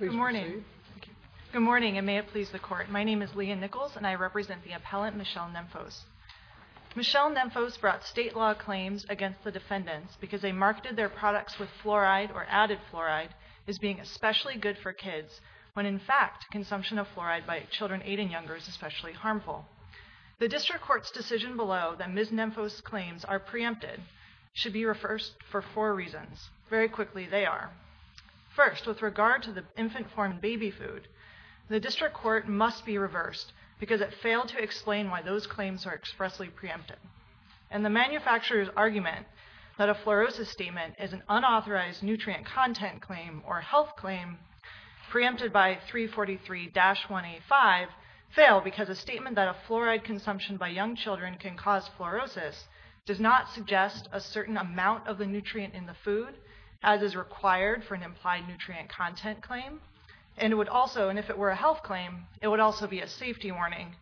Good morning. Good morning and may it please the court. My name is Leah Nichols and I represent the appellant Michelle Nemphos. Michelle Nemphos brought state law claims against the defendants because they marketed their products with fluoride or added fluoride as being especially good for kids when in fact consumption of fluoride by children 8 and younger is especially harmful. The district court's decision below that Ms. Nemphos claims are preempted should be reversed for four reasons. Very quickly they are. First with regard to the infant-formed baby food the district court must be reversed because it failed to explain why those claims are expressly preempted and the manufacturers argument that a fluorosis statement is an unauthorized nutrient content claim or health claim preempted by 343-185 fail because a statement that a fluoride consumption by young children can cause fluorosis does not suggest a certain amount of the nutrient in the food as is required for an implied nutrient content claim and it would also and if it were a health claim it would also be a safety warning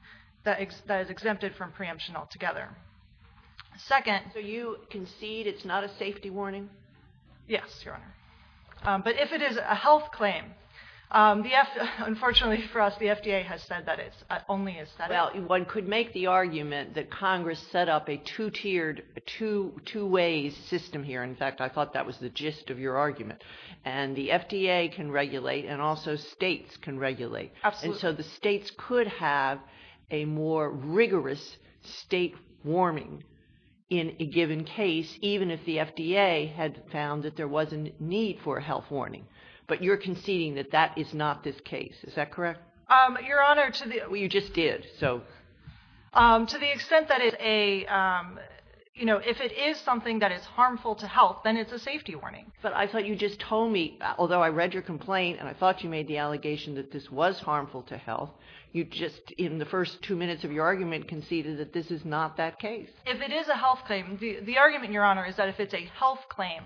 that is exempted from preemption altogether. Second. So you concede it's not a safety warning? Yes your honor. But if it is a health claim the F unfortunately for us the FDA has said that it's only a set out. One could make the argument that Congress set up a two-tiered two-two ways system here in fact I thought that was the gist of your argument and the FDA can regulate and also states can regulate. Absolutely. So the states could have a more rigorous state warming in a given case even if the FDA had found that there was a need for a health warning but you're conceding that that is not this case is that correct? Your honor to the well you just did so to the extent that is a you know if it is something that is harmful to health then it's a safety warning. But I thought you just told me although I read your complaint and I thought you made the allegation that this was harmful to health you just in the first two minutes of your argument conceded that this is not that case. If it is a health claim the argument your honor is that if it's a health claim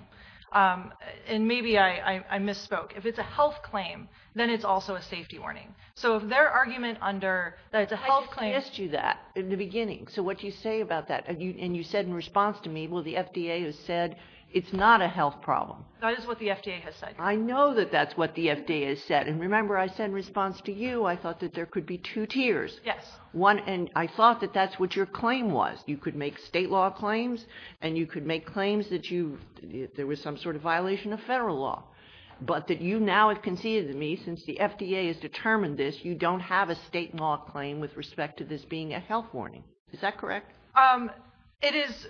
and maybe I misspoke if it's a health claim then it's also a safety warning. So if their argument under that's a health claim. I just asked you that in the beginning so what you say about that and you said in response to me well the FDA has said it's not a health problem. That is what the FDA has said. I know that that's what the FDA has said and remember I said in you I thought that there could be two tiers. Yes. One and I thought that that's what your claim was. You could make state law claims and you could make claims that you there was some sort of violation of federal law. But that you now have conceded to me since the FDA has determined this you don't have a state law claim with respect to this being a health warning. Is that correct? Um it is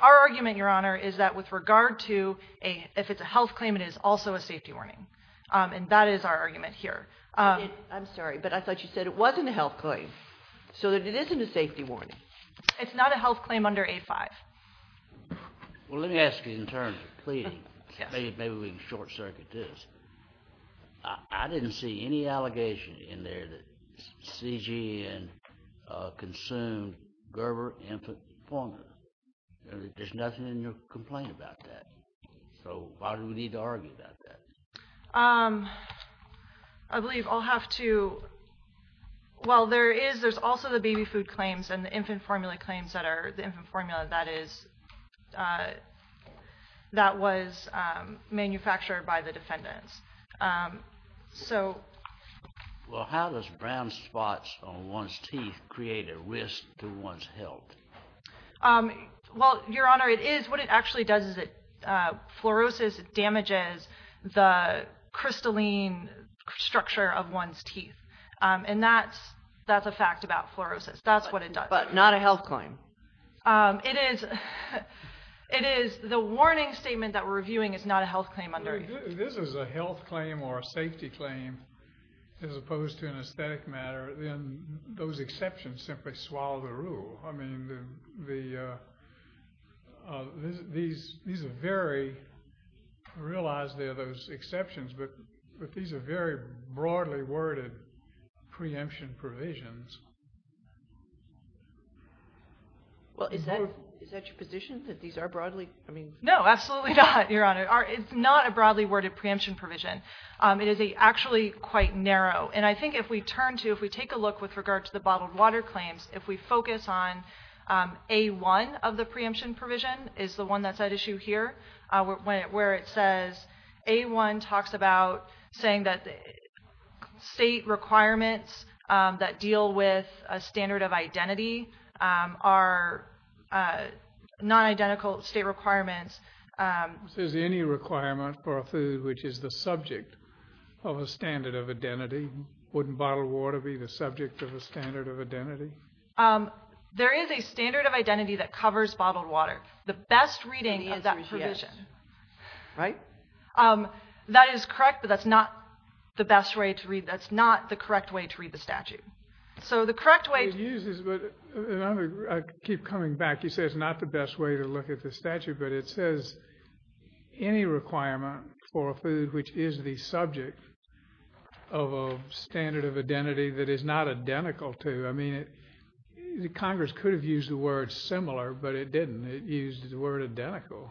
our argument your honor is that with regard to a if it's a health claim it is also a safety warning and that is our argument here. I'm sorry but I thought you said it wasn't a health claim so that it isn't a safety warning. It's not a health claim under 85. Well let me ask you in terms of pleading. Maybe we can short-circuit this. I didn't see any allegation in there that CGN consumed Gerber infant formula. There's nothing in your complaint about that. So why do we need to argue about that? I believe I'll have to well there is there's also the baby food claims and the infant formula claims that are the infant formula that is that was manufactured by the defendants. So well how does brown spots on one's teeth create a risk to one's health? Well your honor it is what it damages the crystalline structure of one's teeth and that's that's a fact about fluorosis that's what it does. But not a health claim? It is it is the warning statement that we're reviewing is not a health claim under. This is a health claim or a safety claim as opposed to an aesthetic matter then those exceptions simply swallow the rule. I mean these are very realized they're those exceptions but but these are very broadly worded preemption provisions. Well is that is that your position that these are broadly I mean no absolutely not your honor. It's not a broadly worded preemption provision. It regards to the bottled water claims if we focus on a one of the preemption provision is the one that's at issue here where it says a one talks about saying that the state requirements that deal with a standard of identity are non-identical state requirements. Is any requirement for a food which is the standard of identity? There is a standard of identity that covers bottled water. The best reading is that provision. Right? That is correct but that's not the best way to read that's not the correct way to read the statute. So the correct way to use this but I keep coming back you say it's not the best way to look at the statute but it says any requirement for a food which is the subject of a standard of identity that is not identical to I mean it the Congress could have used the word similar but it didn't it used the word identical.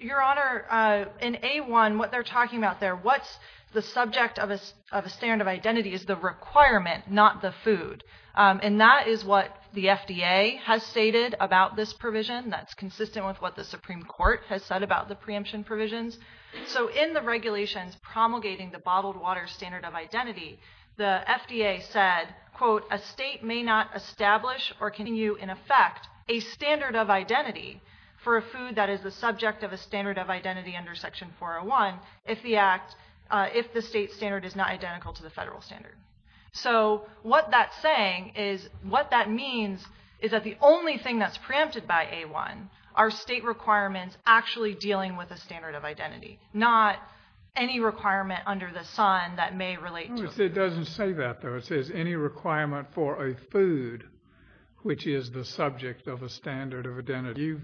Your honor in A1 what they're talking about there what's the subject of a of a standard of identity is the requirement not the food and that is what the FDA has stated about this provision that's consistent with what the Supreme Court has said about the preemption provisions. So in the regulations promulgating the water standard of identity the FDA said quote a state may not establish or can you in effect a standard of identity for a food that is the subject of a standard of identity under section 401 if the act if the state standard is not identical to the federal standard. So what that's saying is what that means is that the only thing that's preempted by A1 are state requirements actually dealing with the standard of identity not any requirement under the Sun that may relate. It doesn't say that though it says any requirement for a food which is the subject of a standard of identity.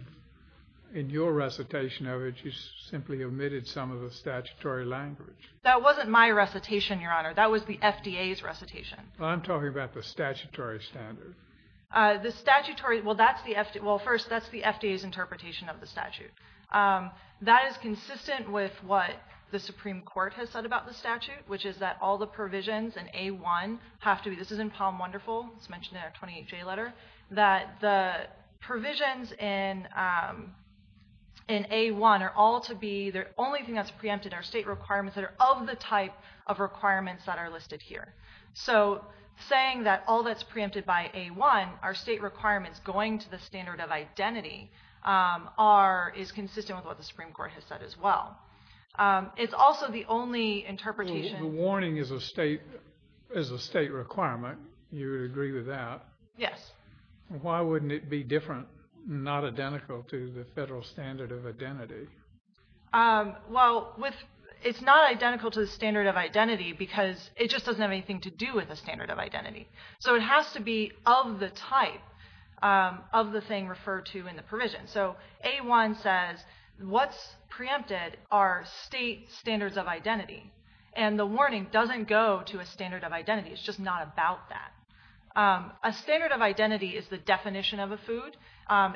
In your recitation of it you simply omitted some of the statutory language. That wasn't my recitation your honor that was the FDA's recitation. I'm talking about the statutory standard. The statutory well that's the FDA well first that's the FDA's interpretation of the statute. That is consistent with what the Supreme Court has said about the statute which is that all the provisions in A1 have to be this is in Palm Wonderful it's mentioned in our 28 J letter that the provisions in in A1 are all to be the only thing that's preempted our state requirements that are of the type of requirements that are listed here. So saying that all that's preempted by A1 our state requirements going to the standard of identity are is that as well. It's also the only interpretation... The warning is a state is a state requirement you agree with that? Yes. Why wouldn't it be different not identical to the federal standard of identity? Well with it's not identical to the standard of identity because it just doesn't have anything to do with the standard of identity. So it has to be of the type of the thing referred to in the preempted our state standards of identity and the warning doesn't go to a standard of identity it's just not about that. A standard of identity is the definition of a food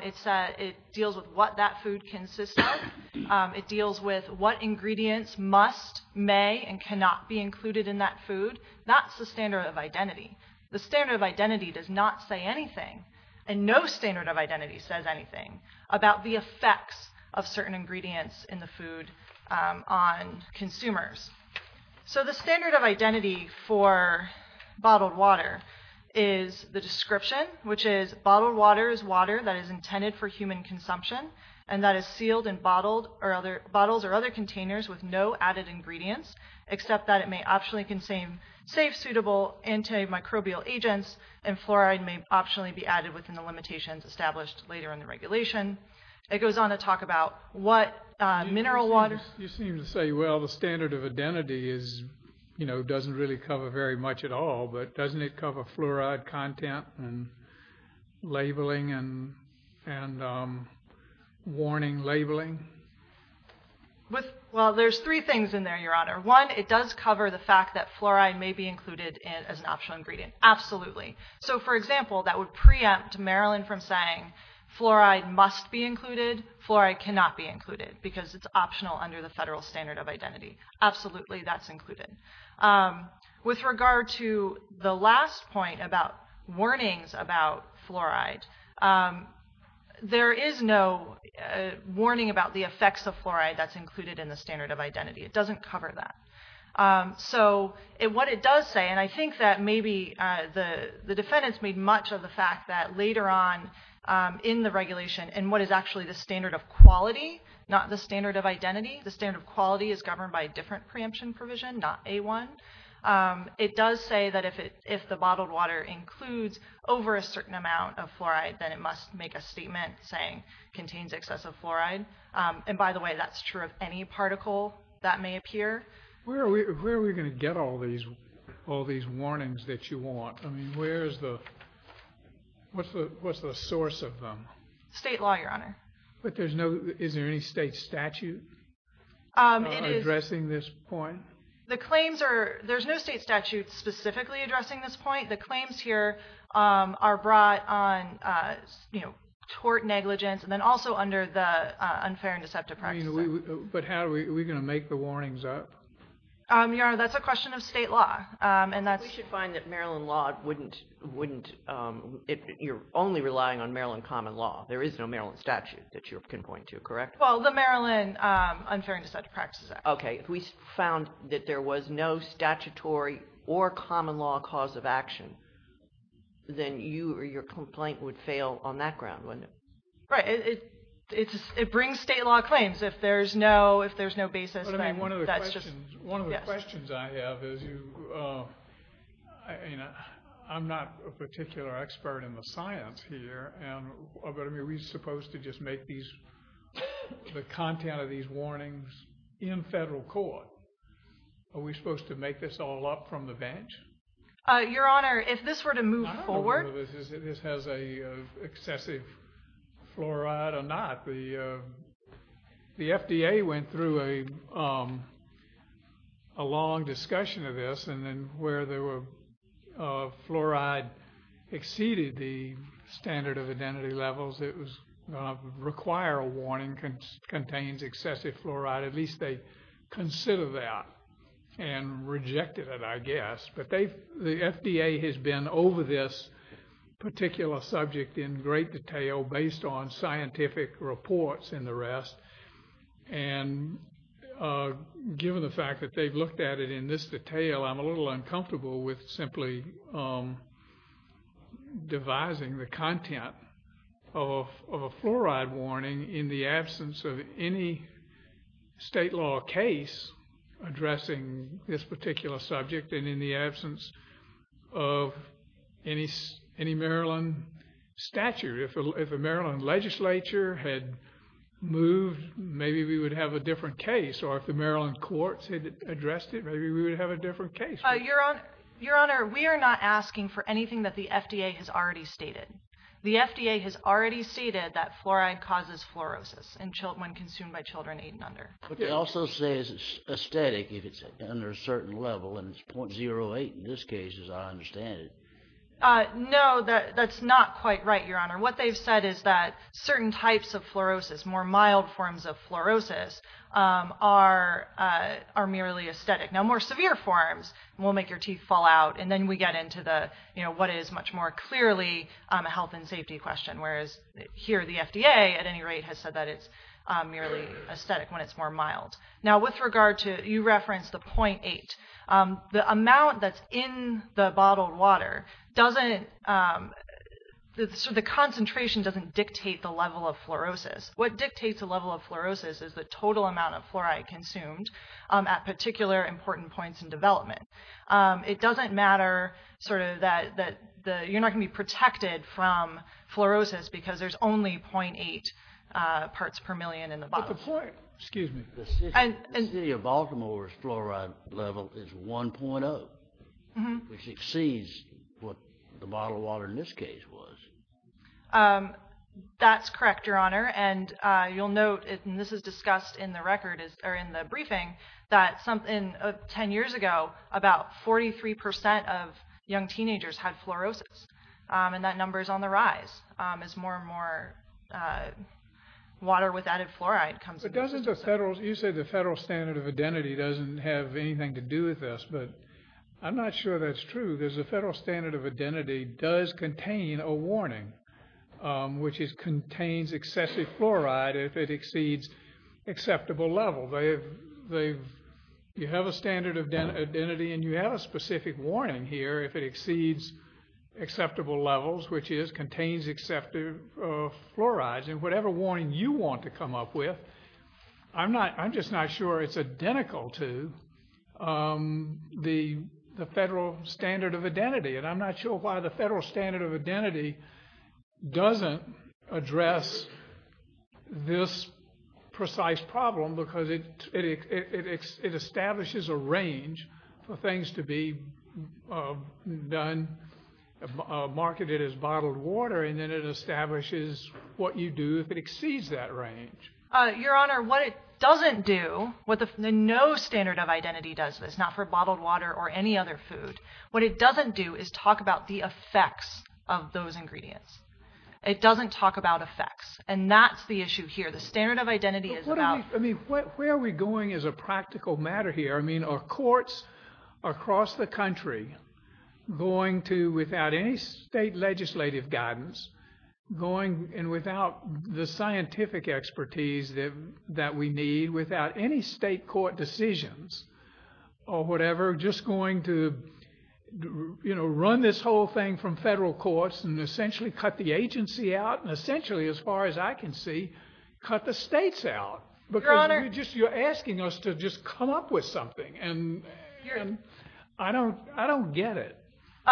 it's a it deals with what that food consists of it deals with what ingredients must may and cannot be included in that food that's the standard of identity. The standard of identity does not say anything and no standard of identity says anything about the effects of certain ingredients in the food on consumers. So the standard of identity for bottled water is the description which is bottled water is water that is intended for human consumption and that is sealed and bottled or other bottles or other containers with no added ingredients except that it may optionally contain safe suitable antimicrobial agents and fluoride may optionally be added within the limitations established later in the regulation. It goes on to talk about what mineral waters. You seem to say well the standard of identity is you know doesn't really cover very much at all but doesn't it cover fluoride content and labeling and and warning labeling? With well there's three things in there your honor. One it does cover the fact that fluoride may be included in as an optional ingredient absolutely. So for example that would preempt Marilyn from saying fluoride must be included, fluoride cannot be included because it's optional under the federal standard of identity. Absolutely that's included. With regard to the last point about warnings about fluoride there is no warning about the effects of fluoride that's included in the standard of identity. It doesn't cover that. So it what it does say and I think that maybe the the defendants made much of the fact that later on in the regulation and what is actually the standard of quality not the standard of identity. The standard of quality is governed by a different preemption provision not a one. It does say that if it if the bottled water includes over a certain amount of fluoride then it must make a statement saying contains excessive fluoride and by the way that's true of any particle that may appear. Where are we going to get all these all these claims? What's the source of them? State law your honor. But there's no is there any state statute addressing this point? The claims are there's no state statute specifically addressing this point the claims here are brought on you know tort negligence and then also under the unfair and deceptive practices. But how are we going to make the warnings up? Your honor that's a question of state law and that's. We should find that Maryland law wouldn't wouldn't if you're only relying on Maryland common law there is no Maryland statute that you can point to correct? Well the Maryland unfair and deceptive practices. Okay if we found that there was no statutory or common law cause of action then you or your complaint would fail on that ground wouldn't it? Right it it's it brings state law claims if there's no if there's no basis. I mean one of the questions one of the questions you know I'm not a particular expert in the science here and are we supposed to just make these the content of these warnings in federal court? Are we supposed to make this all up from the bench? Your honor if this were to move forward. This has a excessive fluoride or not the the FDA went through a long discussion of this and then where there were fluoride exceeded the standard of identity levels it was require a warning contains excessive fluoride at least they consider that and rejected it I guess but they the FDA has been over this particular subject in great detail based on scientific reports in the rest and given the fact that they've looked at it in this detail I'm a little uncomfortable with simply devising the content of a fluoride warning in the absence of any state law case addressing this particular subject and in the absence of any any Maryland statute if a Maryland legislature had moved maybe we would have a different case or if the Maryland courts had addressed it maybe we would have a different case. Your honor your honor we are not asking for anything that the FDA has already stated the FDA has already stated that fluoride causes fluorosis and children when consumed by children eight and under. But they also say it's aesthetic if it's under a certain level and it's 0.08 in this case as I understand it. No that that's not quite right your honor what they've said is that certain types of fluorosis more mild forms of fluorosis are are merely aesthetic now more severe forms will make your teeth fall out and then we get into the you know what is much more clearly a health and safety question whereas here the FDA at any rate has said that it's merely aesthetic when it's more mild. Now with regard to you referenced the 0.8 the amount that's in the bottled water doesn't the concentration doesn't dictate the level of fluorosis what dictates the level of fluorosis is the total amount of fluoride consumed at particular important points in development. It doesn't matter sort of that that the you're not gonna be protected from fluorosis because there's only 0.8 parts per million in the city of Baltimore's fluoride level is 1.0 which exceeds what the bottled water in this case was. That's correct your honor and you'll note it and this is discussed in the record is there in the briefing that something of 10 years ago about 43% of young teenagers had fluorosis and that number is on the rise as more and more water with added fluoride comes. It doesn't the federal you say the federal standard of identity doesn't have anything to do with this but I'm not sure that's true there's a federal standard of identity does contain a warning which is contains excessive fluoride if it exceeds acceptable level they've they you have a standard of identity and you have a specific warning here if it exceeds acceptable levels which is contains excessive fluoride and whatever warning you want to come up with I'm not I'm just not sure it's identical to the the federal standard of identity and I'm not sure why the federal standard of identity doesn't address this precise problem because it establishes a range for things to be done marketed as establishes what you do if it exceeds that range your honor what it doesn't do what the no standard of identity does this not for bottled water or any other food what it doesn't do is talk about the effects of those ingredients it doesn't talk about effects and that's the issue here the standard of identity is what I mean what where are we going as a practical matter here I mean our courts across the country going to without any state legislative guidance going and without the scientific expertise that that we need without any state court decisions or whatever just going to you know run this whole thing from federal courts and essentially cut the agency out and essentially as far as I can see cut the states out but you're just you're asking us to just come up with something and I don't I don't get it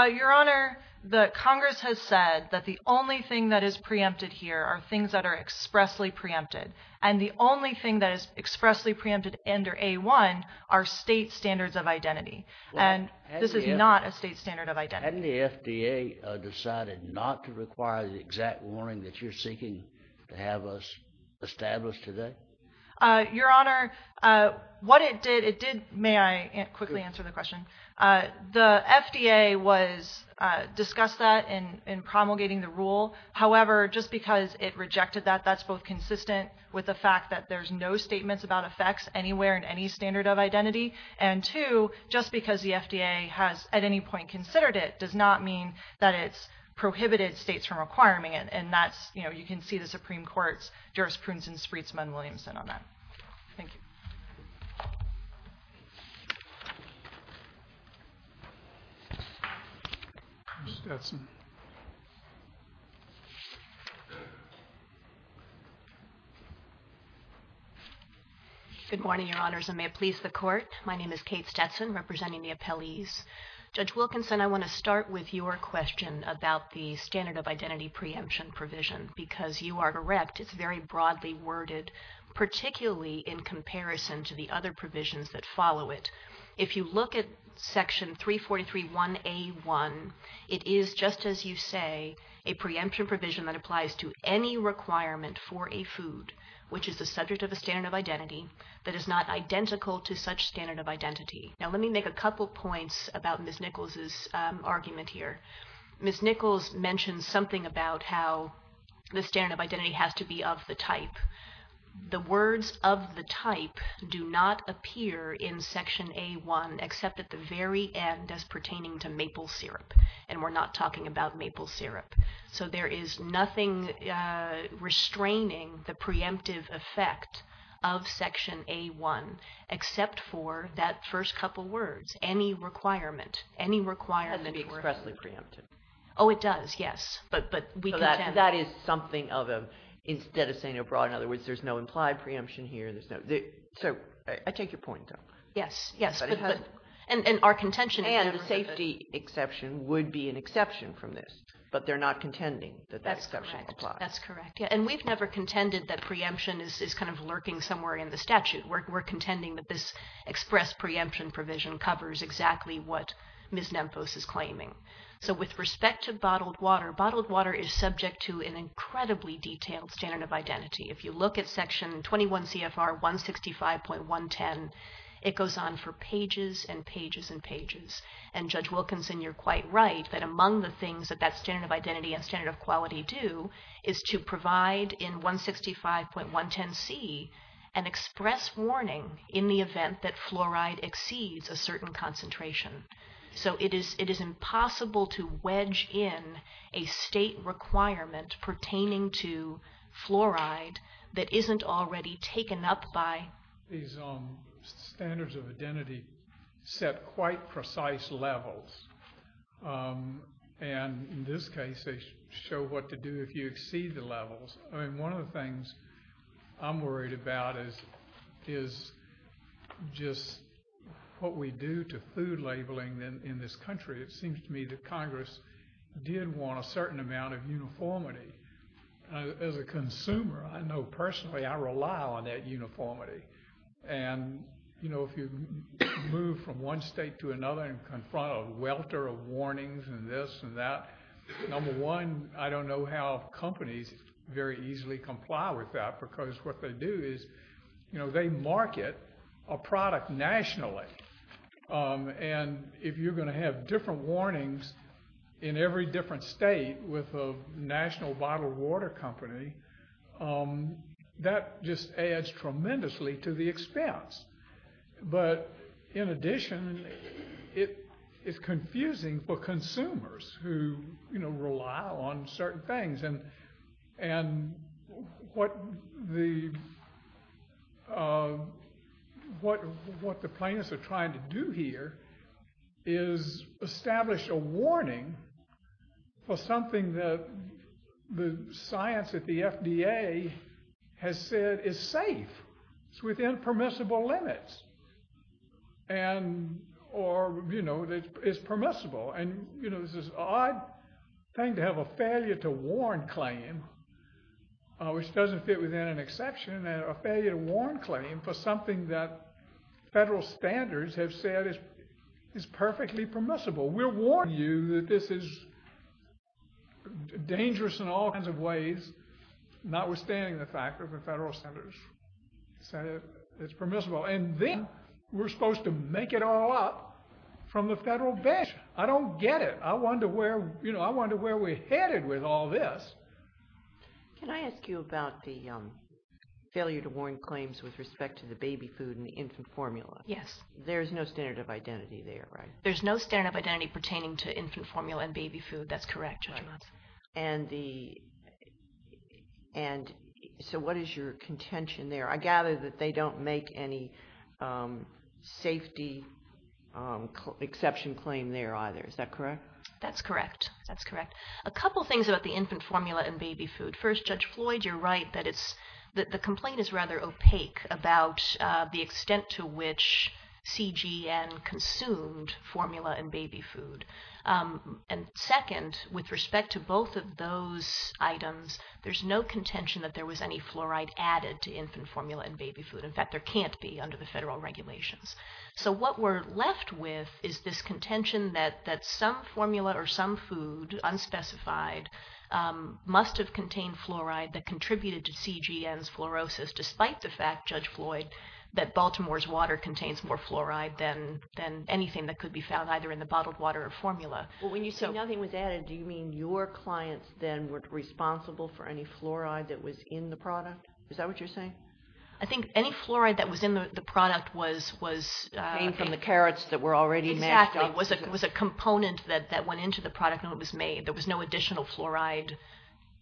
your honor the Congress has said that the only thing that is preempted here are things that are expressly preempted and the only thing that is expressly preempted under a1 our state standards of identity and this is not a state standard of identity FDA decided not to require the exact warning that you're seeking to have us establish today your honor what it did it did may I quickly answer the question the FDA was discussed that in in promulgating the rule however just because it rejected that that's both consistent with the fact that there's no statements about effects anywhere in any standard of identity and to just because the FDA has at any point considered it does not mean that it's prohibited states from acquiring it and that's you know you can see the Supreme Court's jurisprudence and spritzman Williamson on that good morning your honors and may it please the court my name is Kate Stetson representing the appellees judge Wilkinson I want to start with your question about the standard of identity preemption provision because you are correct it's very broadly worded particularly in comparison to the other provisions that follow it if you look at section 343 1a 1 it is just as you say a preemption provision that applies to any requirement for a food which is the subject of a standard of identity that is not identical to such standard of identity now let me make a couple points about miss Nichols's argument here miss Nichols mentioned something about how the standard of identity has to be of the type the words of the type do not appear in section a1 except at the very end as pertaining to maple syrup and we're not talking about maple syrup so there is nothing restraining the preemptive effect of section a1 except for that first couple words any requirement any requirement expressly preemptive oh it does yes but but we know that that is something of a instead of saying abroad in other words there's no implied preemption here there's no big so I take your point though yes yes but and and our contention and the safety exception would be an exception from this but they're not contending that that's that's correct yeah and we've never contended that preemption is kind of lurking somewhere in the statute we're contending that this express preemption provision covers exactly what miss Memphis is claiming so with respect to bottled water bottled water is subject to an incredibly detailed standard of identity if you look at section 21 CFR 165.1 10 it goes on for pages and pages and pages and judge Wilkinson you're quite right that among the things that that standard of identity and standard of quality do is to provide in 165.1 10 C and express warning in the event that fluoride exceeds a certain concentration so it is it is impossible to wedge in a state requirement pertaining to fluoride that isn't already taken up by these standards of identity set quite precise levels and in this case they show what to do if you exceed the levels I mean one of the things I'm worried about is is just what we do to food labeling in this country it seems to me that Congress did want a certain amount of uniformity as a consumer I know personally I rely on that uniformity and you know if you move from one state to another and confront a welter of warnings and this and that number one I don't know how companies very easily comply with that because what they do is you know they market a product nationally and if you're going to have different warnings in every different state with a national bottled water company that just adds tremendously to the expense but in addition it is confusing for consumers who you know what the what what the plaintiffs are trying to do here is establish a warning for something that the science at the FDA has said is safe it's within permissible limits and or you know that it's permissible and you know this is odd thing to have a failure to warn claim which doesn't fit within an exception and a failure to warn claim for something that federal standards have said is is perfectly permissible we'll warn you that this is dangerous in all kinds of ways notwithstanding the fact of the federal senators said it's permissible and then we're supposed to make it all up from the federal bench I don't get it I wonder where you know I wonder where we're headed with all this can I ask you about the failure to warn claims with respect to the baby food and infant formula yes there's no standard of identity there right there's no standard of identity pertaining to infant formula and baby food that's correct and the and so what is your contention there I gather that they don't make any safety exception claim there either is that correct that's correct that's correct a couple things about the infant formula and baby food first judge Floyd you're right that it's that the complaint is rather opaque about the extent to which CG and consumed formula and baby food and second with respect to both of those items there's no contention that there was any fluoride added to infant formula and baby food in fact there can't be under the federal regulations so what we're left with is this contention that that some formula or some food unspecified must have contained fluoride that contributed to CG and fluorosis despite the fact judge Floyd that Baltimore's water contains more fluoride than than anything that could be found either in the bottled water or formula when you say nothing was added do you mean your clients then were responsible for any fluoride that was in the product is that what you're saying I think any fluoride that was in the product was was from the carrots that were already exactly was it was a component that that went into the product no it was made there was no additional fluoride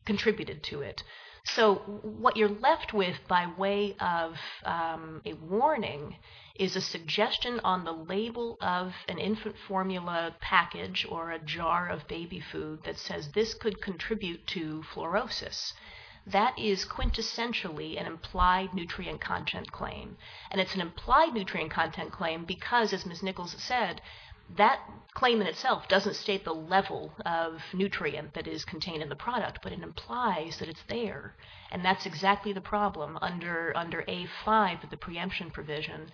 contributed to it so what you're left with by way of a warning is a suggestion on the label of an infant formula package or a jar of baby food that says this could contribute to fluorosis that is quintessentially an implied nutrient content claim and it's an implied nutrient content claim because as Ms. Nichols said that claim in itself doesn't state the level of nutrient that is contained in the product but it implies that it's there and that's exactly the problem under under a five at the preemption provision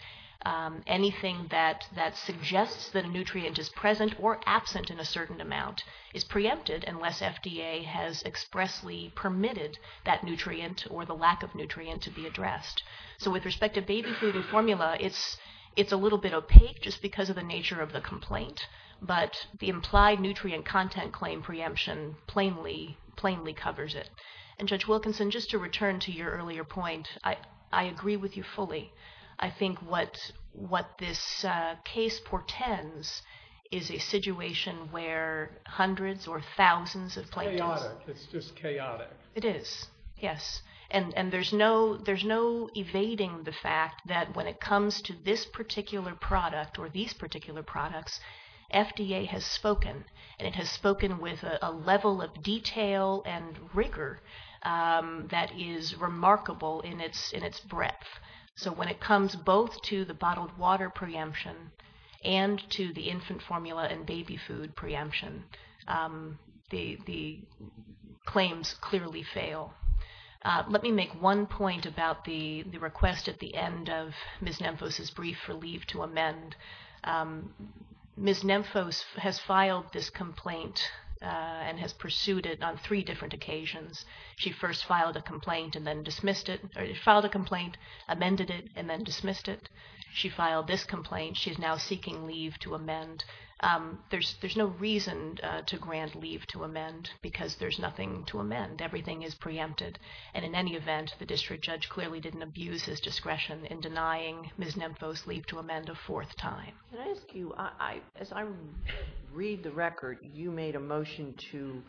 anything that that suggests that a nutrient is present or absent in a certain amount is preempted unless FDA has expressly permitted that nutrient or the lack of nutrient to be addressed so with respect to baby food and formula it's it's a little bit opaque just because of the nature of the complaint but the implied nutrient content claim preemption plainly plainly covers it and judge Wilkinson just to return to your earlier point I I agree with you fully I think what what this case portends is a situation where hundreds or thousands of play it's just chaotic it is yes and and there's no there's no evading the fact that when it comes to this particular product or these particular products FDA has spoken and it has spoken with a level of detail and rigor that is remarkable in its in its breadth so when it comes both to the bottled water preemption and to the infant formula and baby food preemption the the claims clearly fail let me make one point about the the request at the end of Miss Memphis's brief relief to amend Miss Memphis has filed this complaint and has pursued it on three different occasions she first filed a complaint and then dismissed it filed a complaint amended it and then dismissed it she filed this complaint she is now seeking leave to amend there's there's no reason to grant leave to amend because there's nothing to amend everything is preempted and in any event the district judge clearly didn't abuse his discretion in denying Miss Memphis leave to amend a fourth time I read the record you made a motion to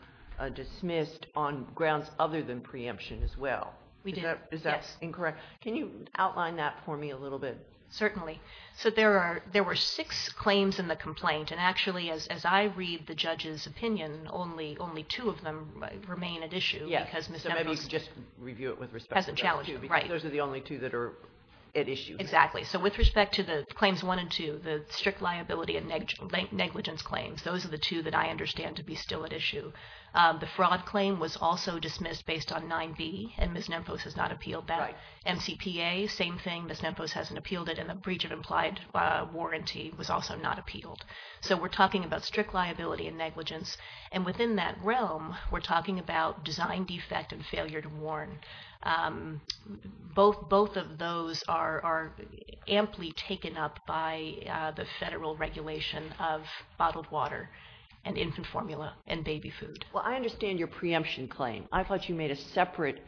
dismissed on grounds other than preemption as well we do that is that incorrect can you outline that for me a little bit certainly so there are there were six claims in the complaint and actually as I read the judge's opinion only only two of them remain at issue yes because mr. maybe just review it with respect hasn't challenged right those are the only two that are at issue exactly so with respect to the claims wanted to the strict liability and negligent negligence claims those are the two that I understand to be still at issue the fraud claim was also dismissed based on 9b and Miss Memphis has not appealed by MCPA same thing Miss Memphis hasn't appealed it and the breach of implied warranty was also not appealed so we're talking about strict liability and negligence and within that realm we're talking about design defect and failure to warn both both of those are are amply taken up by the federal regulation of bottled water and infant formula and baby food well I understand your preemption claim I thought you made a separate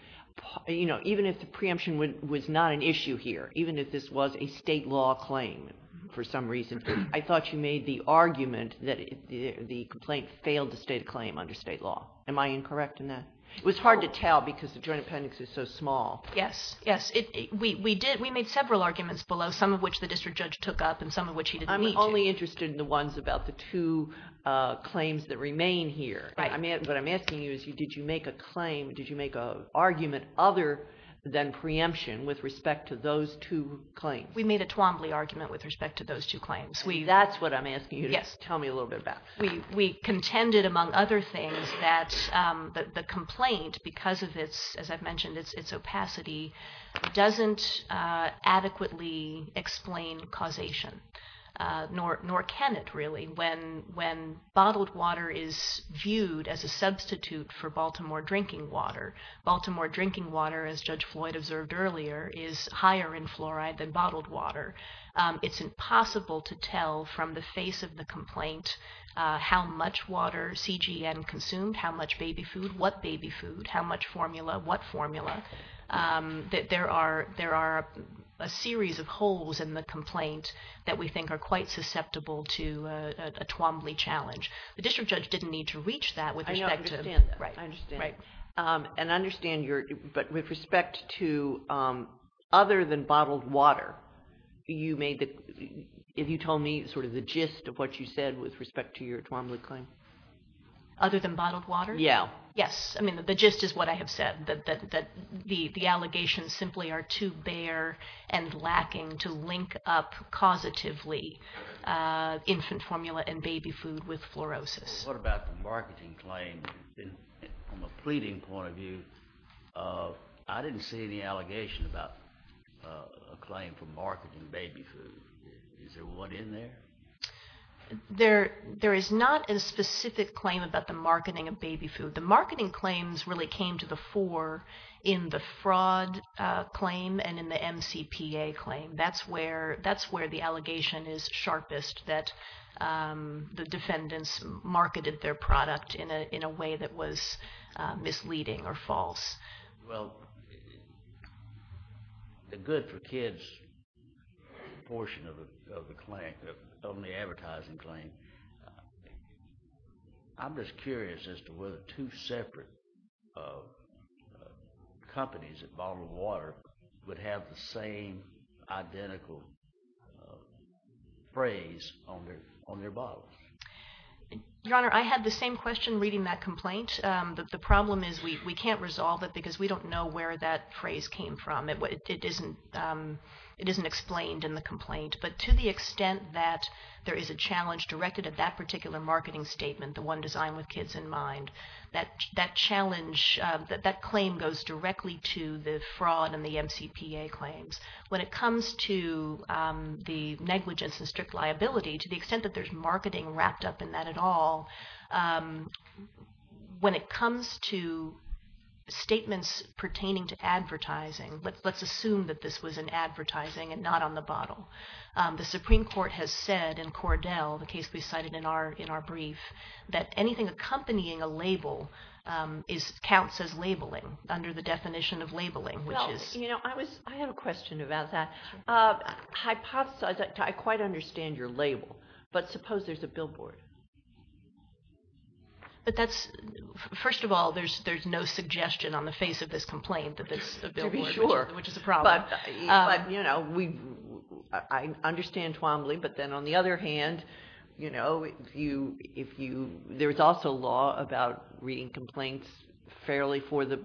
you know even if the preemption was not an issue here even if this was a state law claim for some reason I thought you made the argument that the complaint failed to state a claim under state law am I incorrect in that it was hard to tell because the joint appendix is so small yes yes it we did we made several arguments below some of which the district judge took up and some of which I'm only interested in the ones about the two claims that remain here I mean what I'm asking you is you did you make a claim did you make a argument other than preemption with respect to those two claims we made a Twombly argument with respect to those two claims we that's what I'm asking you yes tell me a little bit about we we contended among other things that the complaint because of its as I've explained causation nor can it really when when bottled water is viewed as a substitute for Baltimore drinking water Baltimore drinking water as judge Floyd observed earlier is higher in fluoride than bottled water it's impossible to tell from the face of the complaint how much water CGM consumed how much baby food what baby food how much formula what formula that there are there are a the complaint that we think are quite susceptible to a Twombly challenge the district judge didn't need to reach that with I understand right right and understand your but with respect to other than bottled water you made that if you told me sort of the gist of what you said with respect to your Twombly claim other than bottled water yeah yes I mean the gist is what I have said that the allegations simply are too bare and lacking to link up causatively infant formula and baby food with fluorosis what about the marketing claim from a pleading point of view I didn't see any allegation about a claim for marketing baby food is there one in there there there is not a specific claim about the in the fraud claim and in the MCPA claim that's where that's where the allegation is sharpest that the defendants marketed their product in a in a way that was misleading or false well the good for kids portion of the claim only advertising claim I'm just curious as to whether two separate companies at bottled water would have the same identical phrase on their on their bottles your honor I had the same question reading that complaint that the problem is we can't resolve it because we don't know where that phrase came from it what it isn't it isn't explained in the complaint but to the extent that there is a challenge directed at that particular marketing statement the one designed with kids in mind that that challenge that that claim goes directly to the fraud and the MCPA claims when it comes to the negligence and strict liability to the extent that there's marketing wrapped up in that at all when it comes to statements pertaining to advertising but let's assume that this was an advertising and not on the bottle the Supreme Court has said in Cordell the case we cited in our in our brief that anything accompanying a label is counts as labeling under the definition of labeling which is you know I was I have a question about that hypothesize I quite understand your label but suppose there's a billboard but that's first of all there's there's no suggestion on the face of this complaint that this sure which is a problem but you know we I understand Twombly but then on the other hand you know you if you there's also law about reading complaints fairly for the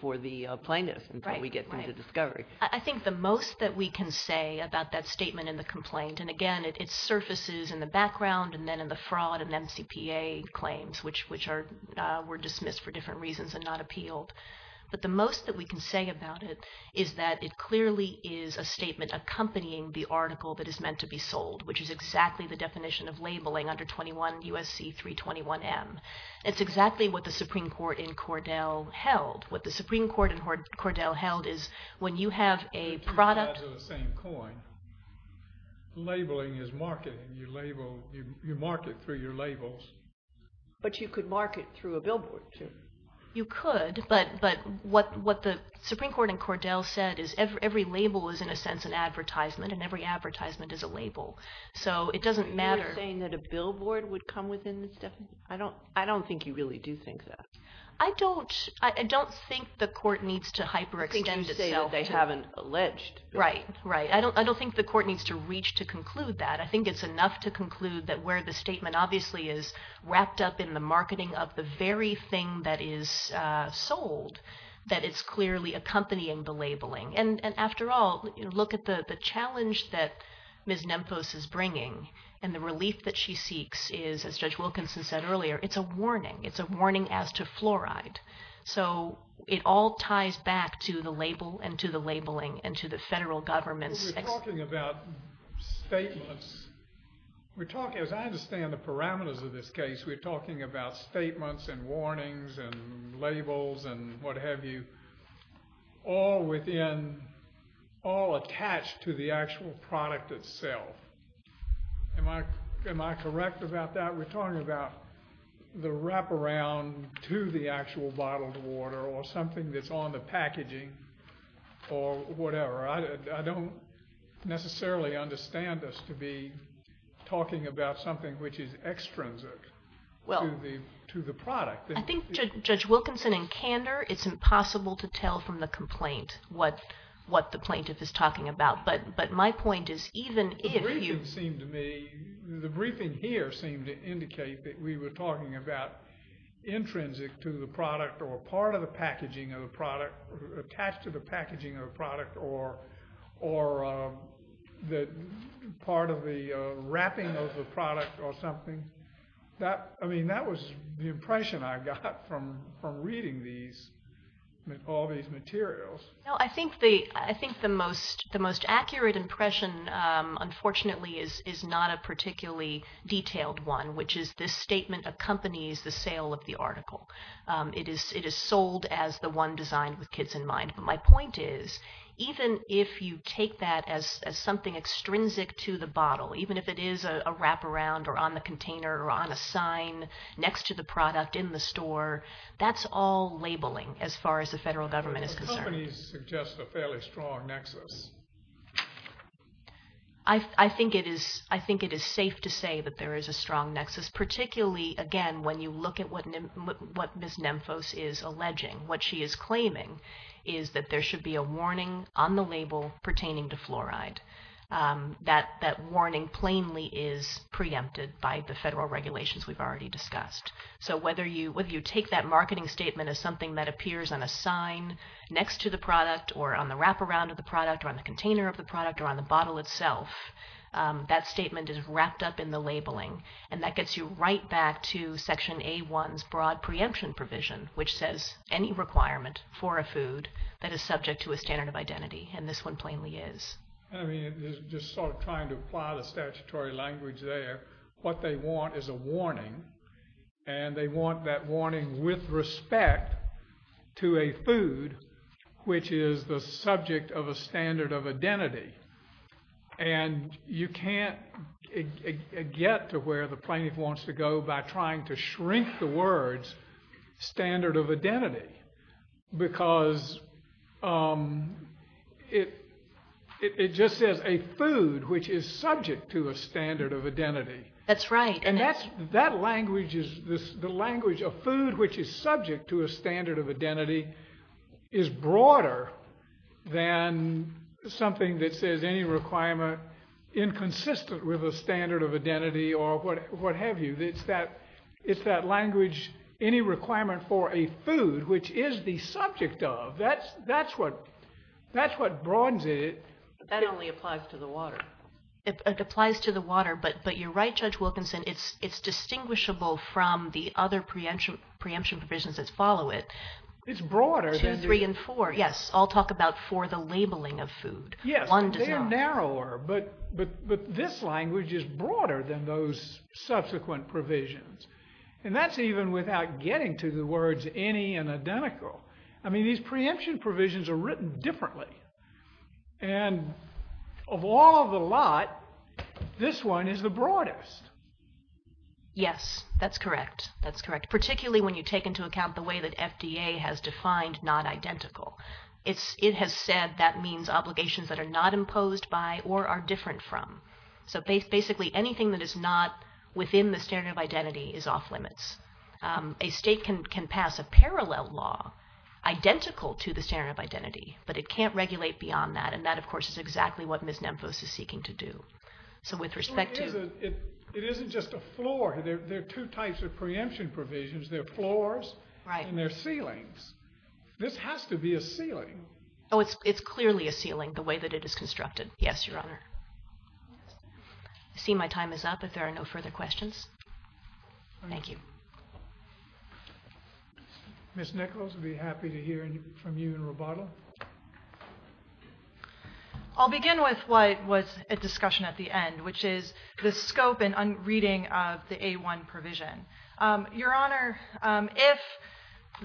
for the plaintiffs right we get into discovery I think the most that we can say about that statement in the complaint and again it surfaces in the background and then in the fraud and MCPA claims which which are were dismissed for different reasons and not appealed but the most that we can say about it is that it clearly is a meant to be sold which is exactly the definition of labeling under 21 USC 321 M it's exactly what the Supreme Court in Cordell held what the Supreme Court in court Cordell held is when you have a product labeling is marketing your label you mark it through your labels but you could market through a billboard too you could but but what what the Supreme Court in Cordell said is every label is in a sense an advertisement and every advertisement is a label so it doesn't matter saying that a billboard would come within this definition I don't I don't think you really do think that I don't I don't think the court needs to hyper extend itself they haven't alleged right right I don't I don't think the court needs to reach to conclude that I think it's enough to conclude that where the statement obviously is wrapped up in the marketing of the very thing that is sold that it's clearly accompanying the labeling and and after all you look at the the challenge that Ms. Nempfos is bringing and the relief that she seeks is as Judge Wilkinson said earlier it's a warning it's a warning as to fluoride so it all ties back to the label and to the labeling and to the federal government's statements we're talking as I understand the parameters of this case we're talking about statements and warnings and labels and what-have-you all within all attached to the actual product itself am I am I correct about that we're talking about the wraparound to the actual bottled water or something that's on the packaging or whatever I don't necessarily understand this to be talking about something which is extrinsic well to the product I think Judge Wilkinson in candor it's impossible to tell from the complaint what what the plaintiff is talking about but but my point is even if you seem to me the briefing here seemed to indicate that we were talking about intrinsic to the product or part of the packaging of the product attached to the packaging of product or or that part of the wrapping of the product or something that I mean that was the impression I got from from reading these all these materials no I think the I think the most the most accurate impression unfortunately is is not a particularly detailed one which is this statement accompanies the sale of the article it is it is sold as the one designed with kids in mind but my point is even if you take that as something extrinsic to the bottle even if it is a wraparound or on the container or on a sign next to the product in the store that's all labeling as far as the federal government is I think it is I think it is safe to say that there is a strong nexus particularly again when you look at what what miss nemphos is alleging what she is claiming is that there should be a warning on the label pertaining to fluoride that that warning plainly is preempted by the federal regulations we've already discussed so whether you would you take that marketing statement is something that appears on a sign next to the product or on the wraparound of the product on the container of the product on the bottle itself that statement is wrapped up in the labeling and that gets you right back to section a one's broad preemption provision which says any requirement for a food that is subject to a standard of identity and this one plainly is what they want is a warning and they want that warning with respect to a food which is the subject of a standard of identity and you can't get to where the plaintiff wants to go by trying to standard of identity because it it just says a food which is subject to a standard of identity that's right and that's that language is this the language of food which is subject to a standard of identity is broader than something that says any requirement inconsistent with a standard of identity or what what have you it's that it's that language any requirement for a food which is the subject of that's that's what that's what broadens it that only applies to the water it applies to the water but but you're right judge Wilkinson it's it's distinguishable from the other preemption preemption provisions that follow it it's broader than three and four yes I'll talk about for the labeling of food yes one design narrower but but but this language is broader than those subsequent provisions and that's even without getting to the words any and identical I mean these preemption provisions are written differently and of all the lot this one is the broadest yes that's correct that's correct particularly when you take into account the way that FDA has defined not identical it's it has said that means obligations that are not that is not within the standard of identity is off-limits a state can can pass a parallel law identical to the standard of identity but it can't regulate beyond that and that of course is exactly what Miss Memphis is seeking to do so with respect to it isn't just a floor there are two types of preemption provisions their floors right and their ceilings this has to be a ceiling oh it's it's clearly a ceiling the way that it is constructed yes your honor I see my time is up if there are no further questions thank you miss Nichols would be happy to hear from you and Roboto I'll begin with what was a discussion at the end which is the scope and unreading of the a1 provision your honor if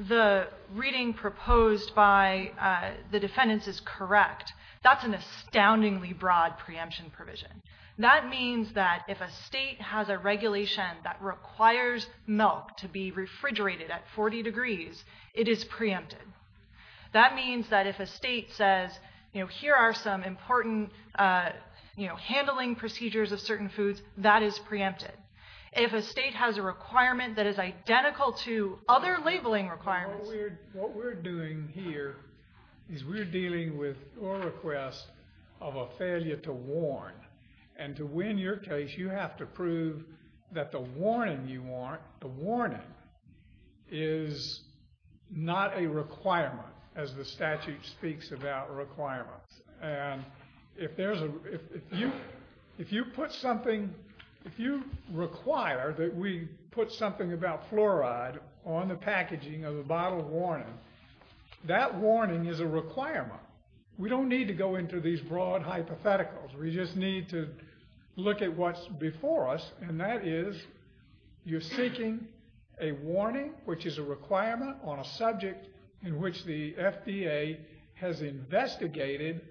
the reading proposed by the defendants is correct that's an if a state has a regulation that requires milk to be refrigerated at 40 degrees it is preempted that means that if a state says you know here are some important you know handling procedures of certain foods that is preempted if a state has a requirement that is identical to other labeling requirements what we're doing here is we're dealing with or request of a failure to warn and to win your case you have to prove that the warning you want the warning is not a requirement as the statute speaks about requirements and if there's a if you put something if you require that we put something about fluoride on the packaging of the bottle of warning that warning is a requirement we don't need to go into these broad hypotheticals we just need to look at what's before us and that is you're seeking a warning which is a requirement on a subject in which the FDA has investigated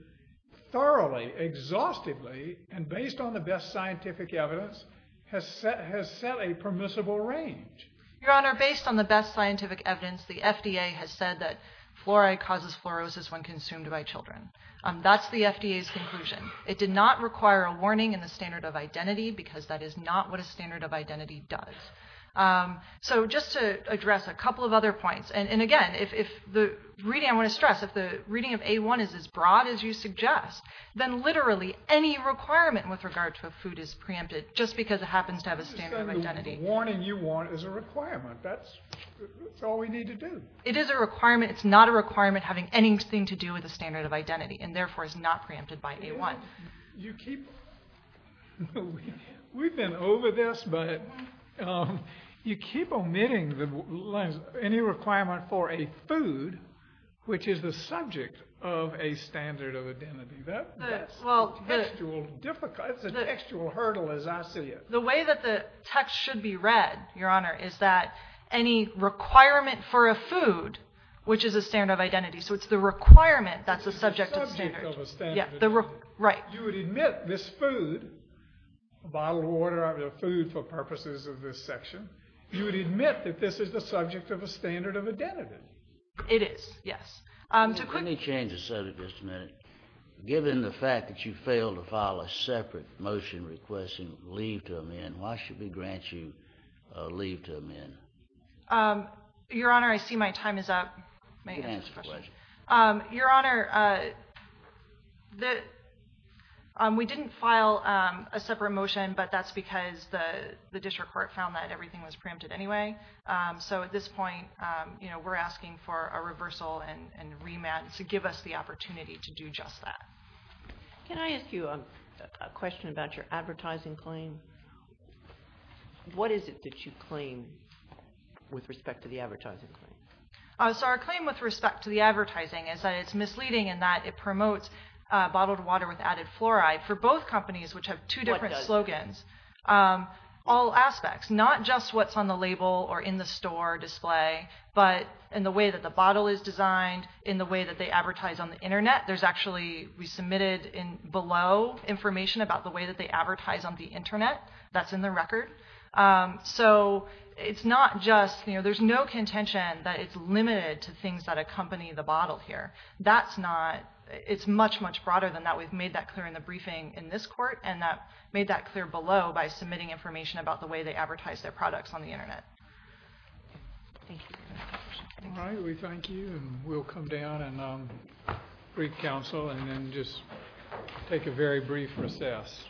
thoroughly exhaustively and based on the best scientific evidence has set has set a permissible range your honor based on the best scientific evidence the FDA has said that fluoride causes fluorosis when that's the FDA's conclusion it did not require a warning in the standard of identity because that is not what a standard of identity does so just to address a couple of other points and again if the reading I want to stress if the reading of a1 is as broad as you suggest then literally any requirement with regard to a food is preempted just because it happens to have a standard of identity warning you want is a requirement that's all we need to do it is a requirement it's not a requirement having anything to do with the standard of identity and therefore is not preempted by a1 you keep we've been over this but you keep omitting the lines any requirement for a food which is the subject of a standard of identity that well difficult the textual hurdle as I see it the way that the text should be read your honor is that any requirement for a food which is a standard of identity so it's the requirement that's subject to the standard yeah the right you would admit this food a bottle of water of your food for purposes of this section you would admit that this is the subject of a standard of identity it is yes I'm too quick any changes said at this minute given the fact that you fail to file a separate motion requesting leave to amend why should we grant you leave to amend your honor I see my time is up your honor that we didn't file a separate motion but that's because the district court found that everything was preempted anyway so at this point you know we're asking for a reversal and remand to give us the opportunity to do just that can I ask you a question about your advertising claim what is it that claim with respect to the advertising so our claim with respect to the advertising is that it's misleading and that it promotes bottled water with added fluoride for both companies which have two different slogans all aspects not just what's on the label or in the store display but in the way that the bottle is designed in the way that they advertise on the internet there's actually we submitted in below information about the way that they it's not just you know there's no contention that it's limited to things that accompany the bottle here that's not it's much much broader than that we've made that clear in the briefing in this court and that made that clear below by submitting information about the way they advertise their products on the internet we'll come down and brief counsel and then just take a very brief recess